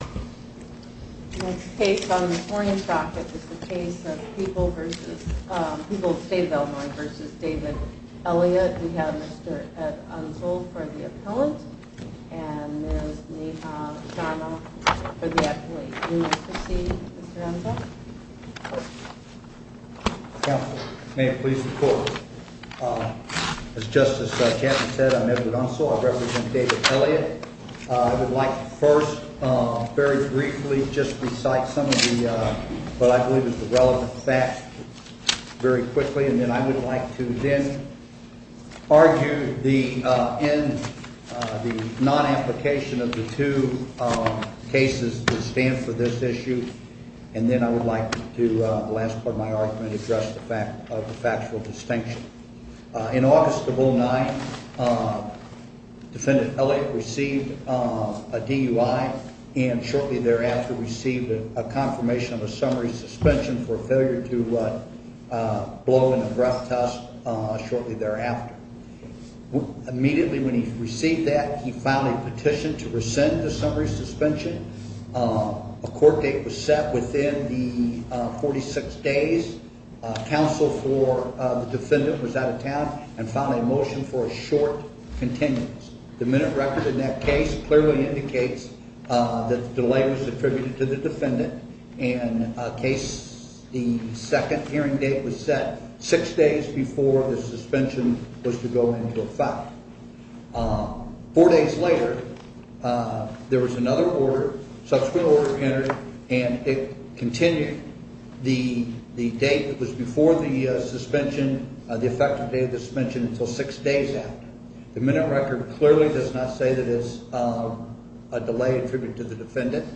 Mr. Ed Unseld for the appellant, and Ms. Neha Sharma for the appellate. You may proceed, Mr. Unseld. Counsel, may it please the court. As Justice Chapman said, I'm Edward Unseld. I represent David Elliott. I would like to first, very briefly, just recite some of the, what I believe is the relevant facts very quickly. And then I would like to then argue the non-application of the two cases that stand for this issue. And then I would like to, the last part of my argument, address the fact of the factual distinction. In August of 2009, Defendant Elliott received a DUI and shortly thereafter received a confirmation of a summary suspension for failure to blow in a breath test shortly thereafter. Immediately when he received that, he filed a petition to rescind the summary suspension. A court date was set within the 46 days. Counsel for the defendant was out of town and filed a motion for a short continuance. The minute record in that case clearly indicates that the delay was attributed to the defendant. In a case, the second hearing date was set six days before the suspension was to go into effect. Four days later, there was another order, subsequent order entered, and it continued. The date was before the suspension, the effective date of suspension, until six days after. The minute record clearly does not say that it is a delay attributed to the defendant.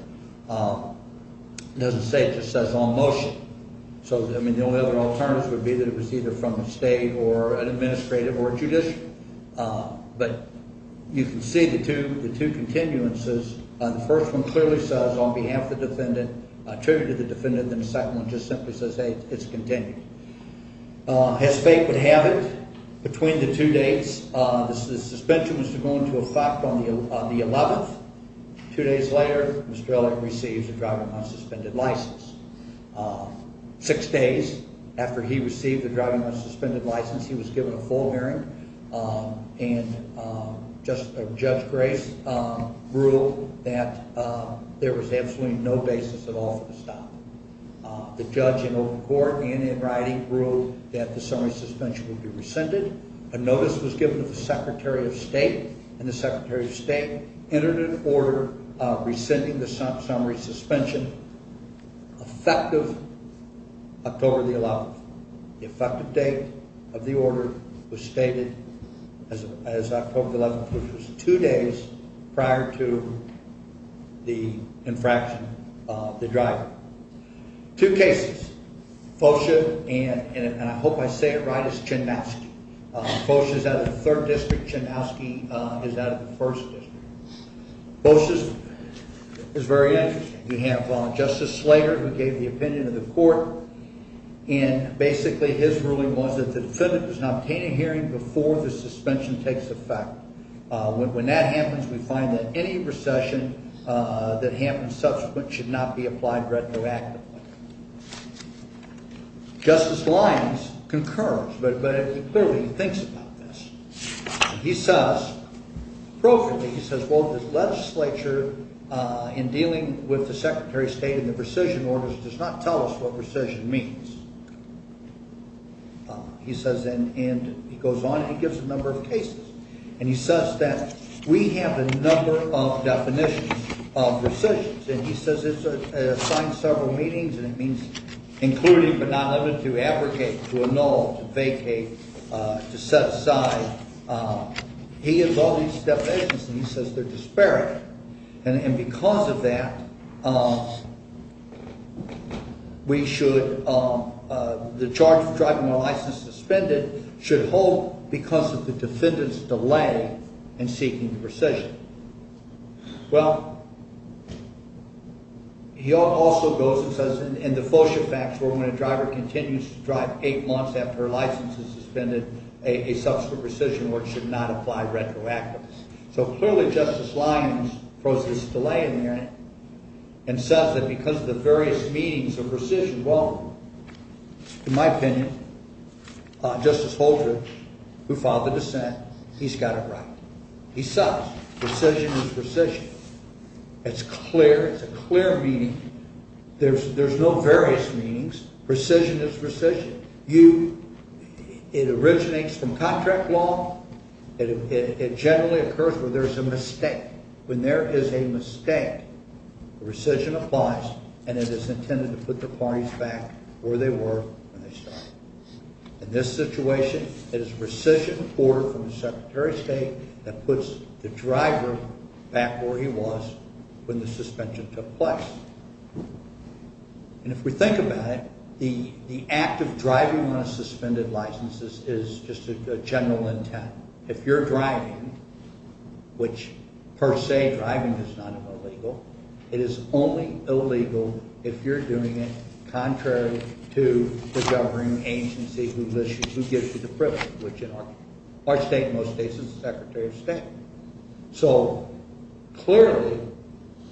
It doesn't say, it just says on motion. So, I mean, the only other alternative would be that it was either from the state or an administrative or judicial. But you can see the two continuances. The first one clearly says, on behalf of the defendant, attributed to the defendant. And the second one just simply says, hey, it's continued. As fate would have it, between the two dates, the suspension was to go into effect on the 11th. Two days later, Mr. Elliott receives a driving-on-suspended license. Six days after he received a driving-on-suspended license, he was given a full hearing. And Judge Grace ruled that there was absolutely no basis at all for the stop. The judge in open court and in writing ruled that the summary suspension would be rescinded. A notice was given to the Secretary of State, and the Secretary of State entered an order rescinding the summary suspension effective October 11th. The effective date of the order was stated as October 11th, which was two days prior to the infraction of the driver. Two cases, Fosha, and I hope I say it right, is Chinnowski. Fosha is out of the Third District. Chinnowski is out of the First District. Fosha's is very interesting. We have Justice Slater, who gave the opinion of the court. And basically his ruling was that the defendant does not obtain a hearing before the suspension takes effect. When that happens, we find that any recession that happens subsequent should not be applied retroactively. Justice Lyons concurs, but he clearly thinks about this. He says, appropriately, he says, well, the legislature in dealing with the Secretary of State and the rescission orders does not tell us what rescission means. He says, and he goes on and he gives a number of cases. And he says that we have a number of definitions of rescissions. And he says it's assigned several meanings, and it means including but not limiting, to abrogate, to annul, to vacate, to set aside. He has all these definitions, and he says they're disparate. And because of that, we should, the charge for driving with a license suspended should hold because of the defendant's delay in seeking rescission. Well, he also goes and says in the Fosha facts where when a driver continues to drive eight months after her license is suspended, a subsequent rescission order should not apply retroactively. So clearly Justice Lyons throws this delay in there and says that because of the various meanings of rescission, well, in my opinion, Justice Holdren, who filed the dissent, he's got it right. He says rescission is rescission. It's clear, it's a clear meaning. There's no various meanings. Rescission is rescission. It originates from contract law. It generally occurs where there's a mistake. When there is a mistake, rescission applies, and it is intended to put the parties back where they were when they started. In this situation, it is a rescission order from the Secretary of State that puts the driver back where he was when the suspension took place. And if we think about it, the act of driving on a suspended license is just a general intent. If you're driving, which per se driving is not illegal, it is only illegal if you're doing it contrary to the governing agency who gives you the privilege, which in our state in most cases is the Secretary of State. So clearly,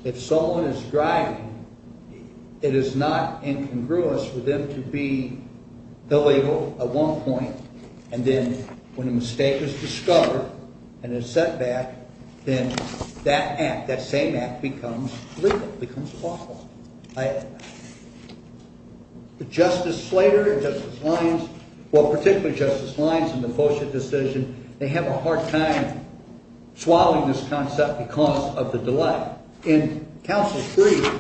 if someone is driving, it is not incongruous with them to be illegal at one point, and then when a mistake is discovered and is set back, then that act, that same act, becomes legal, becomes lawful. Justice Slater and Justice Lyons, well, particularly Justice Lyons in the FOSHA decision, they have a hard time swallowing this concept because of the delay. In Council 3,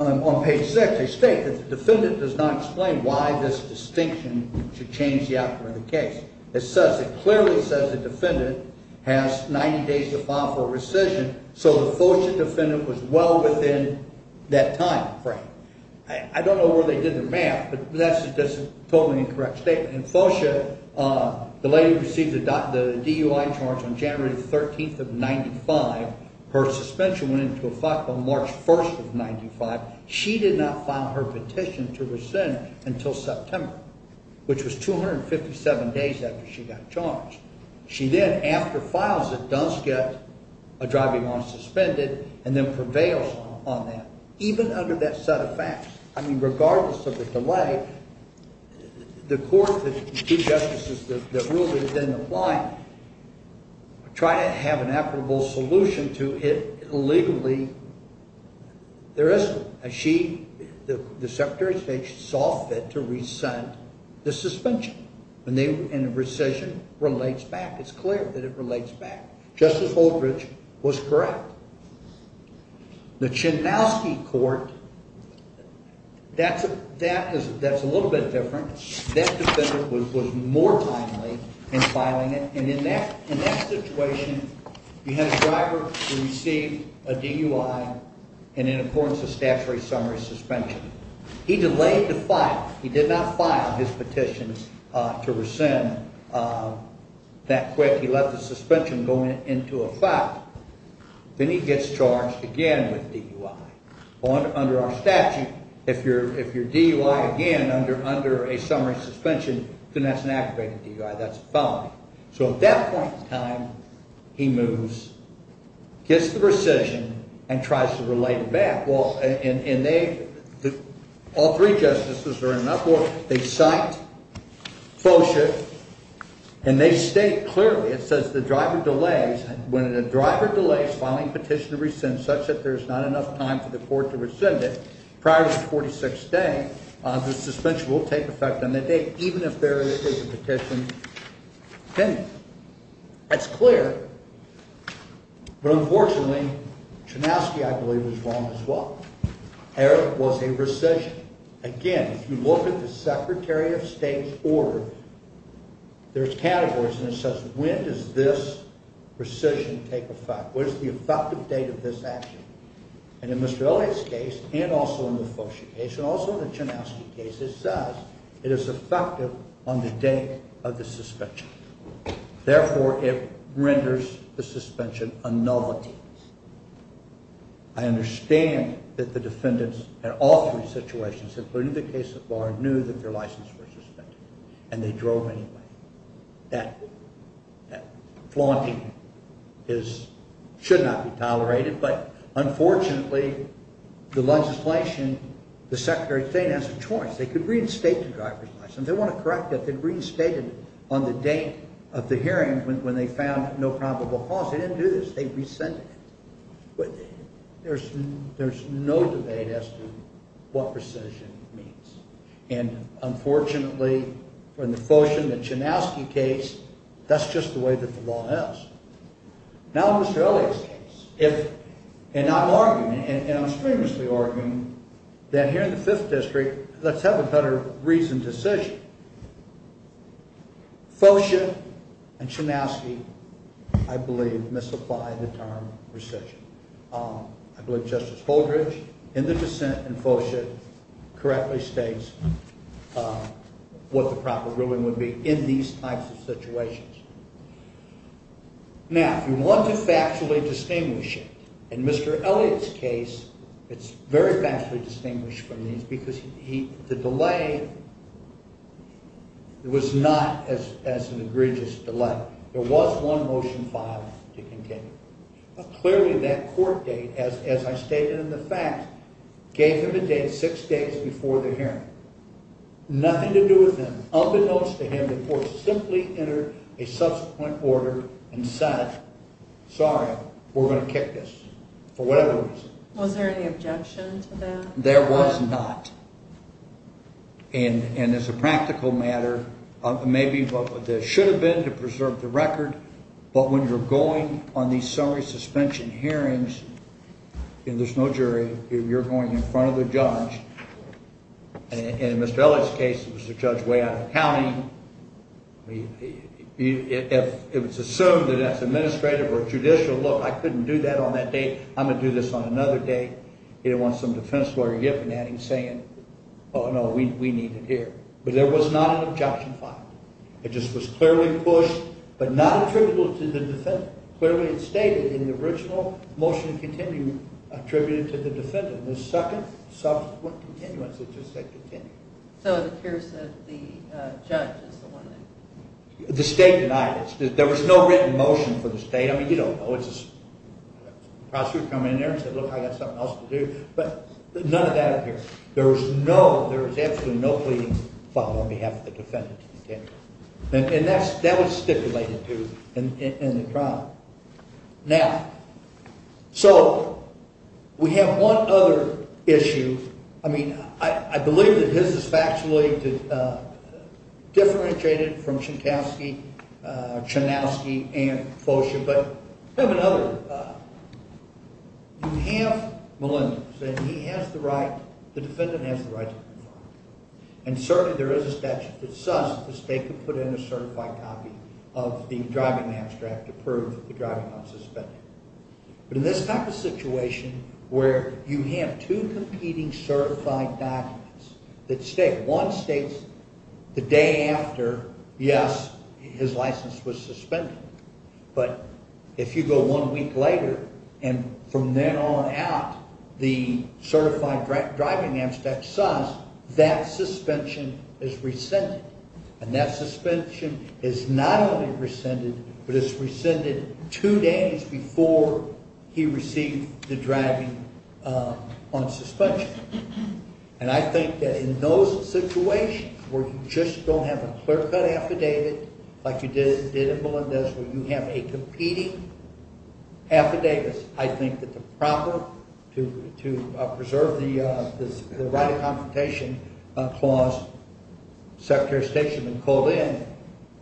on page 6, they state that the defendant does not explain why this distinction should change the outcome of the case. It clearly says the defendant has 90 days to file for rescission, so the FOSHA defendant was well within that timeframe. I don't know where they did the math, but that's a totally incorrect statement. In FOSHA, the lady received the DUI charge on January 13th of 1995. Her suspension went into effect on March 1st of 1995. She did not file her petition to rescind until September, which was 257 days after she got charged. She then, after files it, does get a driving on suspended and then prevails on that, even under that set of facts. I mean, regardless of the delay, the court, the two justices that ruled it didn't apply. Try to have an equitable solution to it illegally, there isn't. She, the Secretary of State, she saw fit to rescind the suspension, and the rescission relates back. It's clear that it relates back. Justice Oldridge was correct. The Chinnowski court, that's a little bit different. That defendant was more timely in filing it, and in that situation, you had a driver who received a DUI and in accordance with statutory summary suspension. He delayed the file. He did not file his petition to rescind that quick. He left the suspension going into effect. Then he gets charged again with DUI. Under our statute, if you're DUI again under a summary suspension, then that's an aggravated DUI. That's a felony. So at that point in time, he moves, gets the rescission, and tries to relate it back. Well, and they, all three justices are in uproar. They cite FOSHA, and they state clearly, it says the driver delays. When a driver delays filing a petition to rescind such that there's not enough time for the court to rescind it prior to the 46th day, the suspension will take effect on that day, even if there is a petition pending. That's clear. But unfortunately, Chinnowski, I believe, was wrong as well. There was a recession. Again, if you look at the Secretary of State's order, there's categories, and it says, when does this recession take effect? What is the effective date of this action? And in Mr. Elliott's case, and also in the FOSHA case, and also in the Chinnowski case, it says it is effective on the date of the suspension. Therefore, it renders the suspension a nullity. I understand that the defendants in all three situations, including the case of Barr, knew that their license was suspended, and they drove anyway. That flaunting should not be tolerated, but unfortunately, the legislation, the Secretary of State has a choice. They could reinstate the driver's license. They want to correct it. They reinstated it on the date of the hearing when they found no probable cause. They didn't do this. They rescinded it. There's no debate as to what rescission means. And unfortunately, in the FOSHA and the Chinnowski case, that's just the way that the law is. Now in Mr. Elliott's case, and I'm arguing, and I'm strenuously arguing, that here in the Fifth District, let's have a better reasoned decision. FOSHA and Chinnowski, I believe, misapply the term rescission. I believe Justice Holdridge, in the dissent in FOSHA, correctly states what the proper ruling would be in these types of situations. Now, if you want to factually distinguish it, in Mr. Elliott's case, it's very factually distinguished from these, because the delay was not as an egregious delay. There was one Motion 5 to continue. Clearly, that court date, as I stated in the facts, gave him a date, six days before the hearing. Nothing to do with him. Unbeknownst to him, the court simply entered a subsequent order and said, sorry, we're going to kick this for whatever reason. Was there any objection to that? There was not. And as a practical matter, maybe there should have been to preserve the record, but when you're going on these summary suspension hearings, and there's no jury, you're going in front of the judge, and in Mr. Elliott's case, it was a judge way out of the county. If it's assumed that that's administrative or judicial, look, I couldn't do that on that date. I'm going to do this on another date. He didn't want some defense lawyer yipping at him, saying, oh, no, we need it here. But there was not an objection filed. It just was clearly pushed, but not attributable to the defendant. Clearly, it's stated in the original motion to continue, attributed to the defendant. The second subsequent continuance, it just said continue. So it appears that the judge is the one that- The state denied it. There was no written motion for the state. The prosecutor would come in there and say, look, I've got something else to do. But none of that appears. There was absolutely no pleading filed on behalf of the defendant. And that was stipulated, too, in the trial. Now, so we have one other issue. I mean, I believe that his is factually differentiated from Chankowski, Chanowski, and Fosha. But we have another. You have Melendez, and he has the right, the defendant has the right to be fired. And certainly, there is a statute that says that the state could put in a certified copy of the driving abstract to prove that the driving was suspended. But in this type of situation where you have two competing certified documents that state, one states the day after, yes, his license was suspended. But if you go one week later, and from then on out, the certified driving abstract says that suspension is rescinded. And that suspension is not only rescinded, but it's rescinded two days before he received the driving on suspension. And I think that in those situations where you just don't have a clear-cut affidavit, like you did in Melendez where you have a competing affidavit, I think that the proper, to preserve the right of confrontation clause, Secretary of State should have been called in,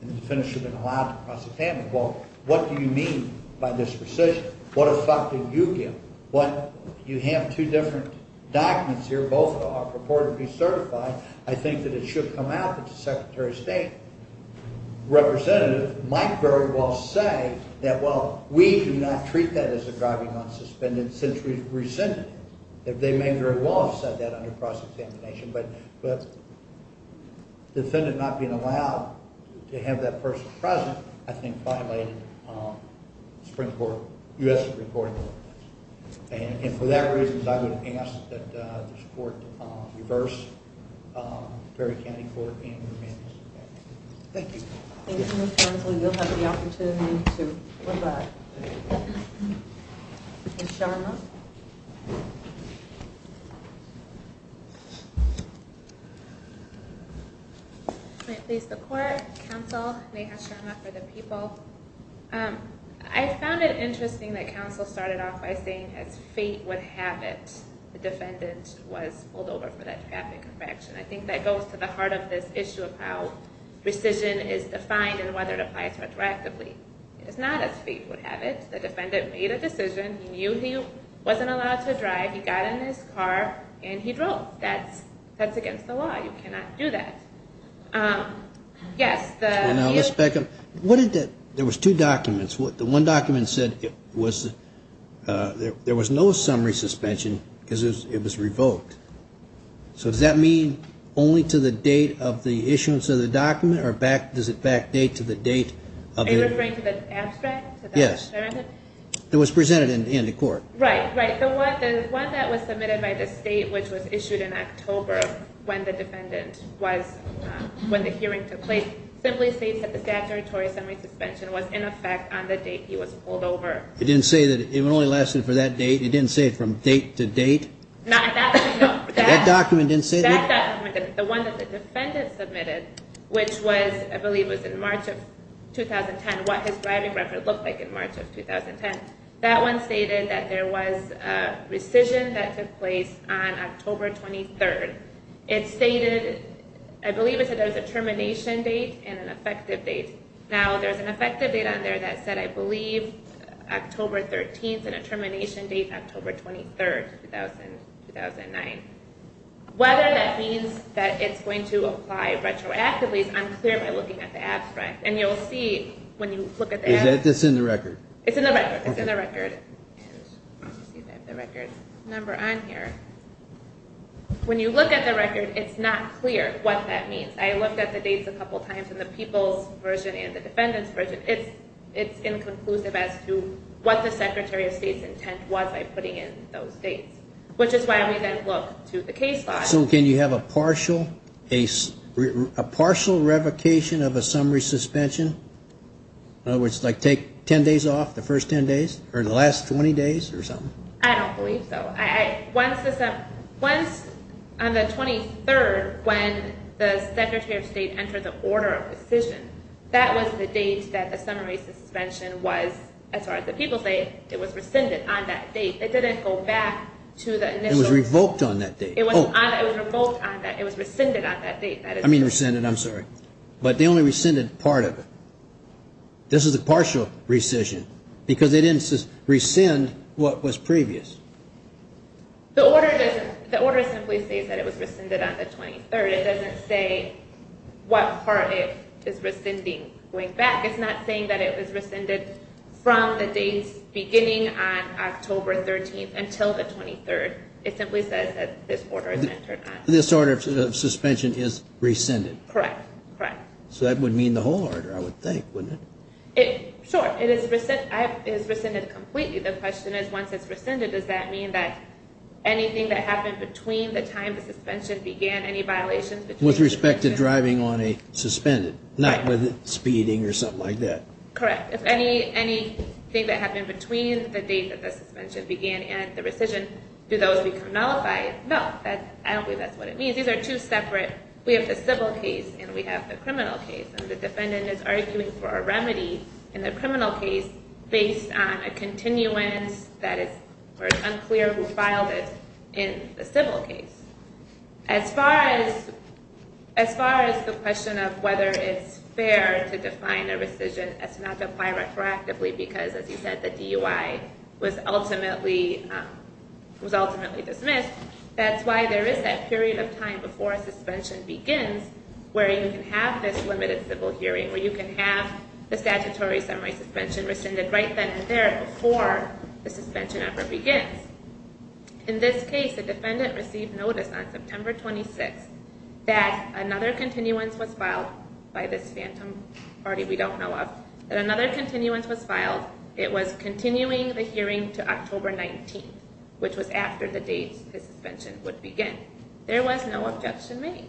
and the defendant should have been allowed to cross-examine. Well, what do you mean by this rescission? What effect do you give? You have two different documents here. Both are purportedly certified. I think that it should come out that the Secretary of State representative might very well say that, well, we do not treat that as a driving on suspended since rescinded. They may very well have said that under cross-examination, but the defendant not being allowed to have that person present, I think, violated the Supreme Court, U.S. Supreme Court ordinance. And for that reason, I would ask that this Court reverse Perry County Court and Melendez. Thank you. Thank you, counsel. You'll have the opportunity to rebut. Ms. Sharma. May it please the Court. Counsel Neha Sharma for the people. I found it interesting that counsel started off by saying, as fate would have it, the defendant was pulled over for that traffic infraction. I think that goes to the heart of this issue of how rescission is defined and whether it applies retroactively. It's not as fate would have it. The defendant made a decision. He knew he wasn't allowed to drive. He got in his car and he drove. That's against the law. You cannot do that. Yes. Ms. Beckham, there was two documents. The one document said there was no summary suspension because it was revoked. So does that mean only to the date of the issuance of the document or does it back date to the date? Are you referring to the abstract? Yes. It was presented in the Court. Right, right. The one that was submitted by the State, which was issued in October, when the hearing took place, simply states that the statutory summary suspension was in effect on the date he was pulled over. It didn't say that it only lasted for that date? It didn't say from date to date? No. That document didn't say that? That document didn't. The one that the defendant submitted, which I believe was in March of 2010, what his driving record looked like in March of 2010, that one stated that there was a rescission that took place on October 23rd. It stated, I believe it said there was a termination date and an effective date. Now, there's an effective date on there that said, I believe, October 13th and a termination date, October 23rd, 2009. Whether that means that it's going to apply retroactively is unclear by looking at the abstract. And you'll see when you look at the abstract. It's in the record? It's in the record. It's in the record. Let's see if I have the record number on here. When you look at the record, it's not clear what that means. I looked at the dates a couple times in the people's version and the defendant's version. It's inconclusive as to what the Secretary of State's intent was by putting in those dates, which is why we then look to the case file. So can you have a partial revocation of a summary suspension? In other words, like take ten days off the first ten days or the last 20 days or something? I don't believe so. Once on the 23rd when the Secretary of State entered the order of decision, that was the date that the summary suspension was, as far as the people say, it was rescinded on that date. It didn't go back to the initial. It was revoked on that date. It was revoked on that. It was rescinded on that date. I mean rescinded. I'm sorry. But they only rescinded part of it. This is a partial rescission because they didn't rescind what was previous. The order simply states that it was rescinded on the 23rd. It doesn't say what part it is rescinding going back. It's not saying that it was rescinded from the dates beginning on October 13th until the 23rd. It simply says that this order is entered on. This order of suspension is rescinded. Correct. Correct. So that would mean the whole order, I would think, wouldn't it? Sure. It is rescinded completely. The question is once it's rescinded, does that mean that anything that happened between the time the suspension began, any violations? With respect to driving on a suspended, not with speeding or something like that. Correct. If anything that happened between the date that the suspension began and the rescission, do those become nullified? No. I don't believe that's what it means. These are two separate. We have the civil case and we have the criminal case. The defendant is arguing for a remedy in the criminal case based on a continuance that is unclear who filed it in the civil case. As far as the question of whether it's fair to define a rescission as not to apply retroactively because, as you said, the DUI was ultimately dismissed, that's why there is that period of time before a suspension begins where you can have this limited civil hearing, where you can have the statutory summary suspension rescinded right then and there before the suspension ever begins. In this case, the defendant received notice on September 26th that another continuance was filed by this phantom party we don't know of. It was continuing the hearing to October 19th, which was after the date the suspension would begin. There was no objection made.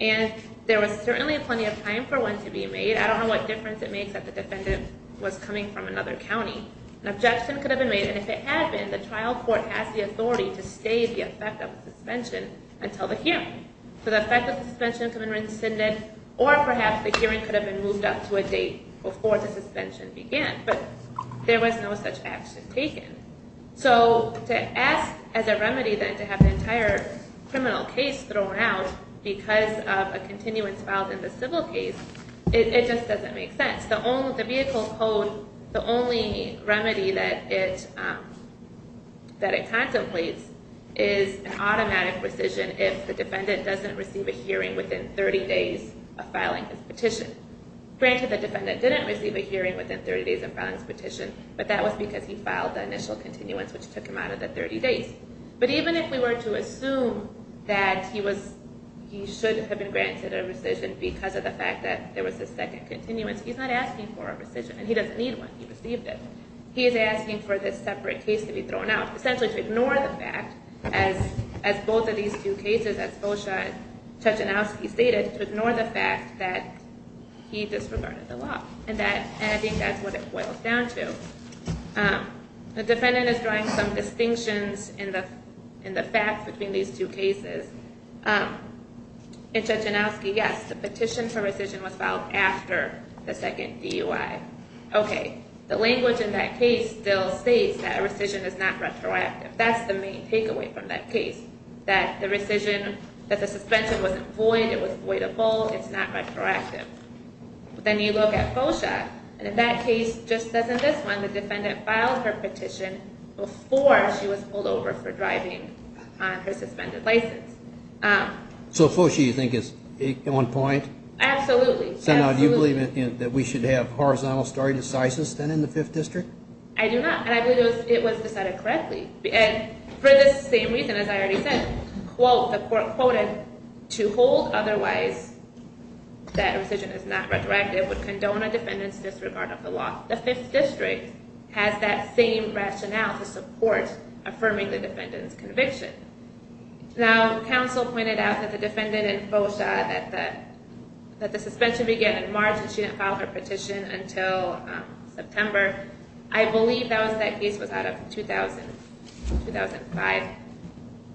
And there was certainly plenty of time for one to be made. I don't know what difference it makes that the defendant was coming from another county. An objection could have been made, and if it had been, the trial court has the authority to stay the effect of the suspension until the hearing. So the effect of the suspension could have been rescinded, or perhaps the hearing could have been moved up to a date before the suspension began. But there was no such action taken. So to ask as a remedy then to have an entire criminal case thrown out because of a continuance filed in the civil case, it just doesn't make sense. The vehicle's code, the only remedy that it contemplates is an automatic rescission if the defendant doesn't receive a hearing within 30 days of filing his petition. Granted, the defendant didn't receive a hearing within 30 days of filing his petition, but that was because he filed the initial continuance, which took him out of the 30 days. But even if we were to assume that he should have been granted a rescission because of the fact that there was a second continuance, he's not asking for a rescission, and he doesn't need one. He received it. He is asking for this separate case to be thrown out, essentially to ignore the fact, as both of these two cases, as Fosha and Chachanowski stated, to ignore the fact that he disregarded the law. And I think that's what it boils down to. The defendant is drawing some distinctions in the facts between these two cases. In Chachanowski, yes, the petition for rescission was filed after the second DUI. Okay, the language in that case still states that a rescission is not retroactive. That's the main takeaway from that case, that the rescission, that the suspension wasn't void, it was voidable, it's not retroactive. But then you look at Fosha, and in that case, just as in this one, the defendant filed her petition before she was pulled over for driving on her suspended license. So Fosha, you think, is on point? Absolutely. So now do you believe that we should have horizontal stare decisis then in the Fifth District? I do not, and I believe it was decided correctly. And for this same reason, as I already said, quote, the court quoted, to hold otherwise that rescission is not retroactive would condone a defendant's disregard of the law. The Fifth District has that same rationale to support affirming the defendant's conviction. Now, counsel pointed out that the defendant in Fosha, that the suspension began in March and she didn't file her petition until September. I believe that was, that case was out of 2000, 2005,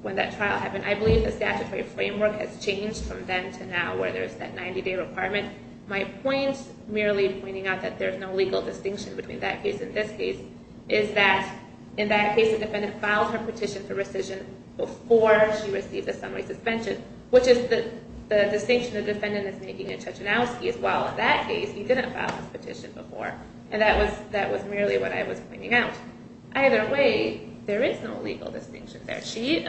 when that trial happened. I believe the statutory framework has changed from then to now where there's that 90-day requirement. My point, merely pointing out that there's no legal distinction between that case and this case, is that in that case, the defendant filed her petition for rescission before she received the summary suspension, which is the distinction the defendant is making in Chachanowski as well. In that case, he didn't file his petition before, and that was merely what I was pointing out. Either way, there is no legal distinction there. She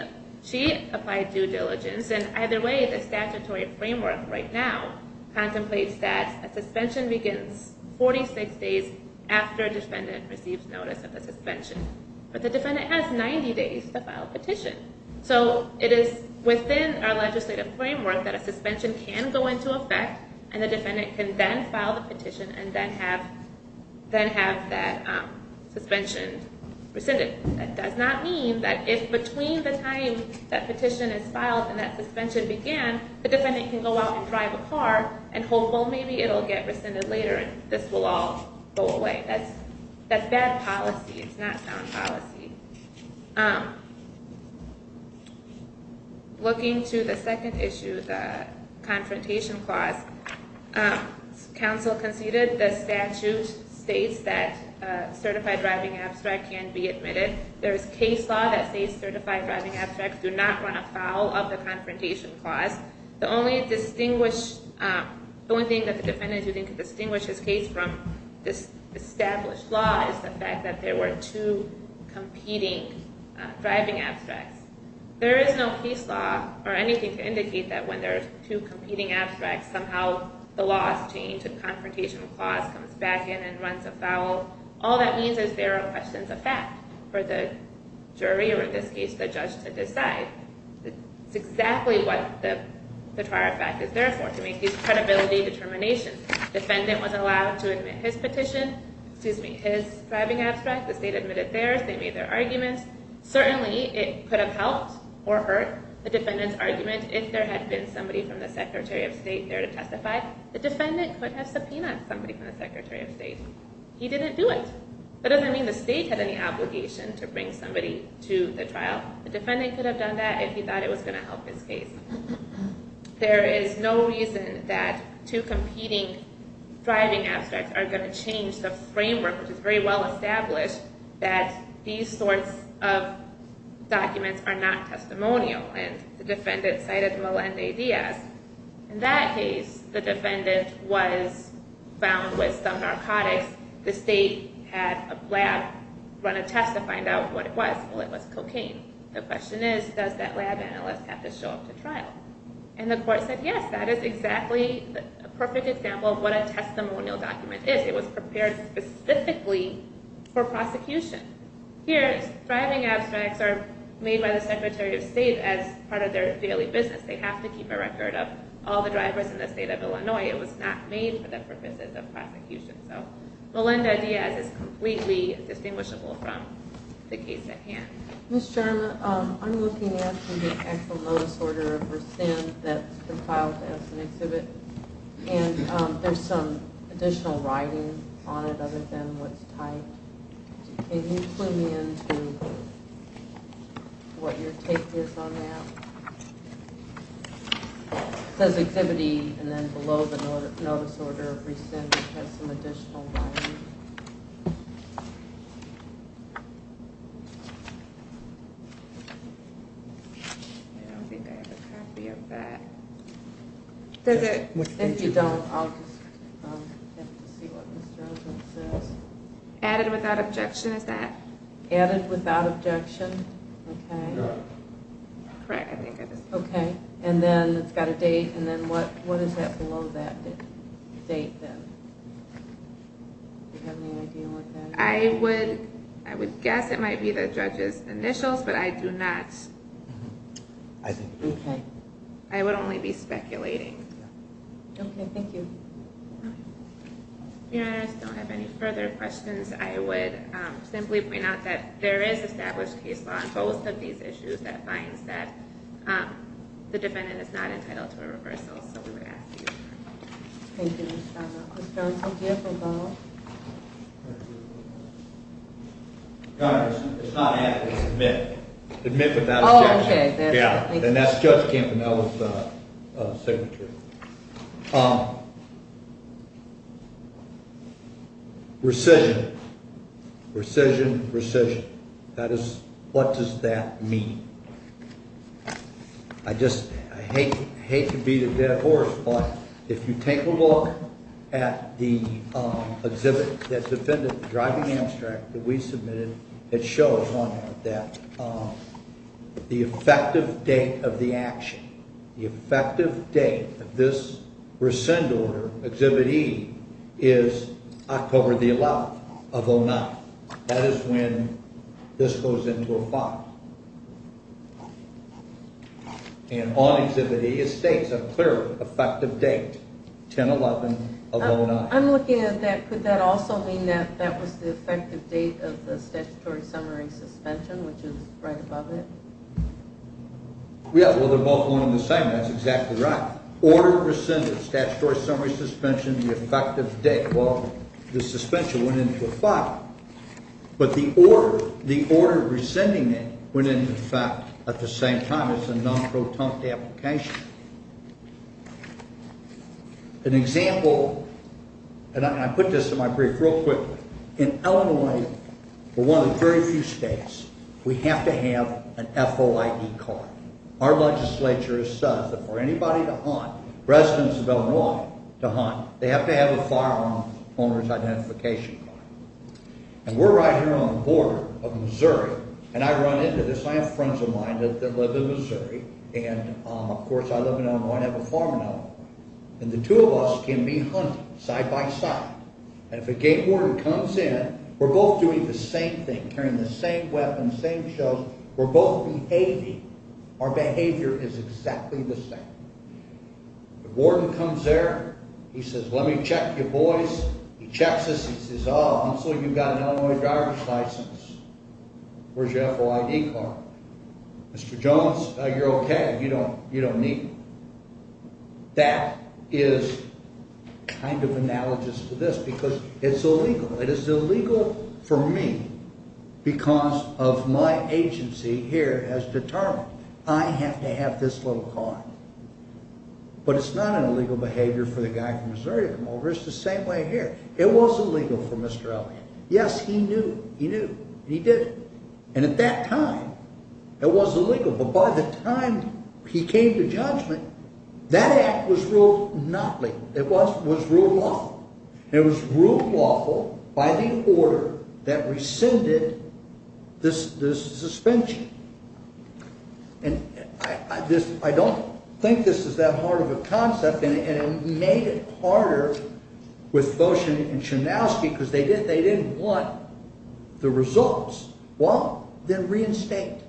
applied due diligence, and either way, the statutory framework right now contemplates that a suspension begins 46 days after a defendant receives notice of a suspension. But the defendant has 90 days to file a petition. So, it is within our legislative framework that a suspension can go into effect and the defendant can then file the petition and then have that suspension rescinded. That does not mean that if between the time that petition is filed and that suspension began, the defendant can go out and drive a car and hope, well, maybe it'll get rescinded later and this will all go away. That's bad policy. It's not sound policy. Looking to the second issue, the Confrontation Clause, Council conceded the statute states that certified driving abstracts can be admitted. There is case law that states certified driving abstracts do not run afoul of the Confrontation Clause. The only thing that the defendant could distinguish his case from this established law is the fact that there were two competing driving abstracts. There is no case law or anything to indicate that when there are two competing abstracts, somehow the law has changed. The Confrontation Clause comes back in and runs afoul. All that means is there are questions of fact for the jury or, in this case, the judge to decide. It's exactly what the trial fact is there for, to make these credibility determinations. Defendant was allowed to admit his petition, excuse me, his driving abstract. The state admitted theirs. They made their arguments. Certainly it could have helped or hurt the defendant's argument if there had been somebody from the Secretary of State there to testify. The defendant could have subpoenaed somebody from the Secretary of State. He didn't do it. That doesn't mean the state had any obligation to bring somebody to the trial. The defendant could have done that if he thought it was going to help his case. There is no reason that two competing driving abstracts are going to change the framework, which is very well established, that these sorts of documents are not testimonial. The defendant cited Melendez-Diaz. In that case, the defendant was found with some narcotics. In that case, the state had a lab run a test to find out what it was. Well, it was cocaine. The question is, does that lab analyst have to show up to trial? And the court said, yes, that is exactly a perfect example of what a testimonial document is. It was prepared specifically for prosecution. Here, driving abstracts are made by the Secretary of State as part of their daily business. They have to keep a record of all the drivers in the state of Illinois. It was not made for the purposes of prosecution. So Melendez-Diaz is completely distinguishable from the case at hand. Ms. Sherman, I'm looking at the actual notice order for sin that's compiled as an exhibit, and there's some additional writing on it other than what's typed. Can you clue me into what your take is on that? It says, Exhibit E, and then below the notice order of rescind, it has some additional writing. I don't think I have a copy of that. Does it? If you don't, I'll just have to see what Ms. Jarzom says. Added without objection, is that? Added without objection. Okay. Correct, I think it is. Okay. And then it's got a date, and then what is that below that date then? Do you have any idea what that is? I would guess it might be the judge's initials, but I do not. Okay. I would only be speculating. Okay, thank you. Your Honor, I just don't have any further questions. I would simply point out that there is established case law on both of these issues that finds that the defendant is not entitled to a reversal, so we would ask that you refer to it. Thank you, Ms. Jarzom. Ms. Jarzom, do you have a ball? Your Honor, it's not add, it's admit. Admit without objection. Oh, okay. And that's Judge Campanella's signature. Rescission, rescission, rescission. What does that mean? I just hate to beat a dead horse, but if you take a look at the exhibit that the defendant, the driving abstract that we submitted, it shows, Your Honor, that the effective date of the action, the effective date of this rescind order, Exhibit E, is October the 11th of 09. That is when this goes into effect. And on Exhibit E, it states a clear effective date, 10-11 of 09. I'm looking at that. Could that also mean that that was the effective date of the statutory summary suspension, which is right above it? Yeah, well, they're both along the same lines. That's exactly right. Order rescinded, statutory summary suspension, the effective date. Well, the suspension went into effect, but the order rescinding it went into effect at the same time. It's a non-protont application. An example, and I put this in my brief real quickly. In Illinois, we're one of the very few states, we have to have an FOID card. Our legislature has said that for anybody to hunt, residents of Illinois to hunt, they have to have a firearm owner's identification card. And we're right here on the border of Missouri, and I run into this. I have friends of mine that live in Missouri, and, of course, I live in Illinois and have a farm in Illinois. And the two of us can be hunting side by side. And if a gate warden comes in, we're both doing the same thing, carrying the same weapons, same shells. We're both behaving. Our behavior is exactly the same. The warden comes there. He says, let me check your boys. He checks us. He says, oh, I'm assuming you've got an Illinois driver's license. Where's your FOID card? Mr. Jones, you're okay. You don't need it. That is kind of analogous to this because it's illegal. It is illegal for me because of my agency here has determined I have to have this little card. But it's not an illegal behavior for the guy from Missouri to come over. It's the same way here. It was illegal for Mr. Elliott. Yes, he knew. He knew. And he did it. And at that time, it was illegal. But by the time he came to judgment, that act was ruled not legal. It was ruled lawful. It was ruled lawful by the order that rescinded the suspension. I don't think this is that hard of a concept. And it made it harder with Foshin and Chnausky because they didn't want the results. Well, then reinstate.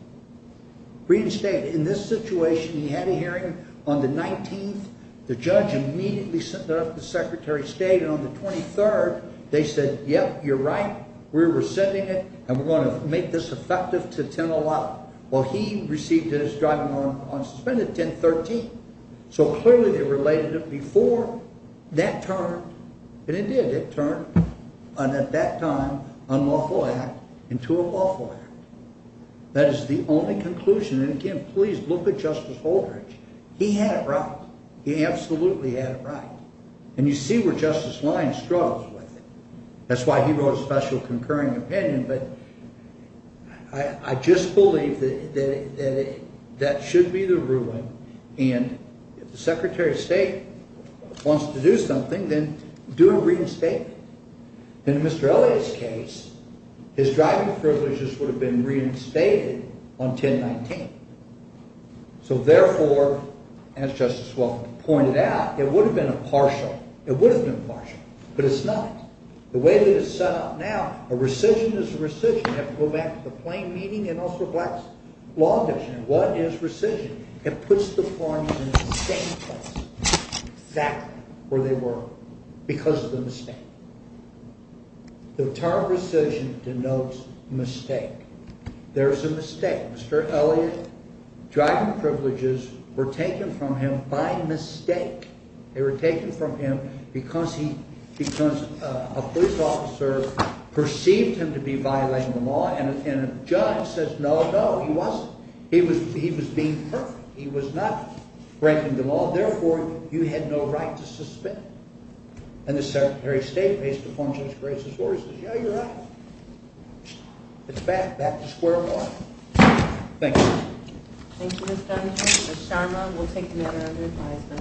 Reinstate. In this situation, he had a hearing on the 19th. The judge immediately sent it up to Secretary of State. And on the 23rd, they said, yep, you're right. We're rescinding it, and we're going to make this effective to 10-0-0. Well, he received it as driving on suspended 10-13. So, clearly, they related it before that term. And it did. It turned an, at that time, unlawful act into a lawful act. That is the only conclusion. And, again, please look at Justice Holdridge. He had it right. He absolutely had it right. And you see where Justice Lyons struggles with it. That's why he wrote a special concurring opinion. But I just believe that that should be the ruling. And if the Secretary of State wants to do something, then do a reinstatement. In Mr. Elliott's case, his driving privileges would have been reinstated on 10-19. So, therefore, as Justice Welk pointed out, it would have been impartial. It would have been impartial. But it's not. The way that it's set up now, a rescission is a rescission. You have to go back to the plain meaning and also Black's law definition. What is rescission? It puts the forms in the same place, exactly where they were, because of the mistake. The term rescission denotes mistake. There's a mistake. Mr. Elliott, driving privileges were taken from him by mistake. They were taken from him because a police officer perceived him to be violating the law. And a judge says, no, no, he wasn't. He was being perfect. He was not breaking the law. Therefore, you had no right to suspend. And the Secretary of State, based upon Judge Grace's words, says, yeah, you're right. It's back to square one. Thank you. Thank you, Mr. Dunham. Ms. Sharma will take another advisement.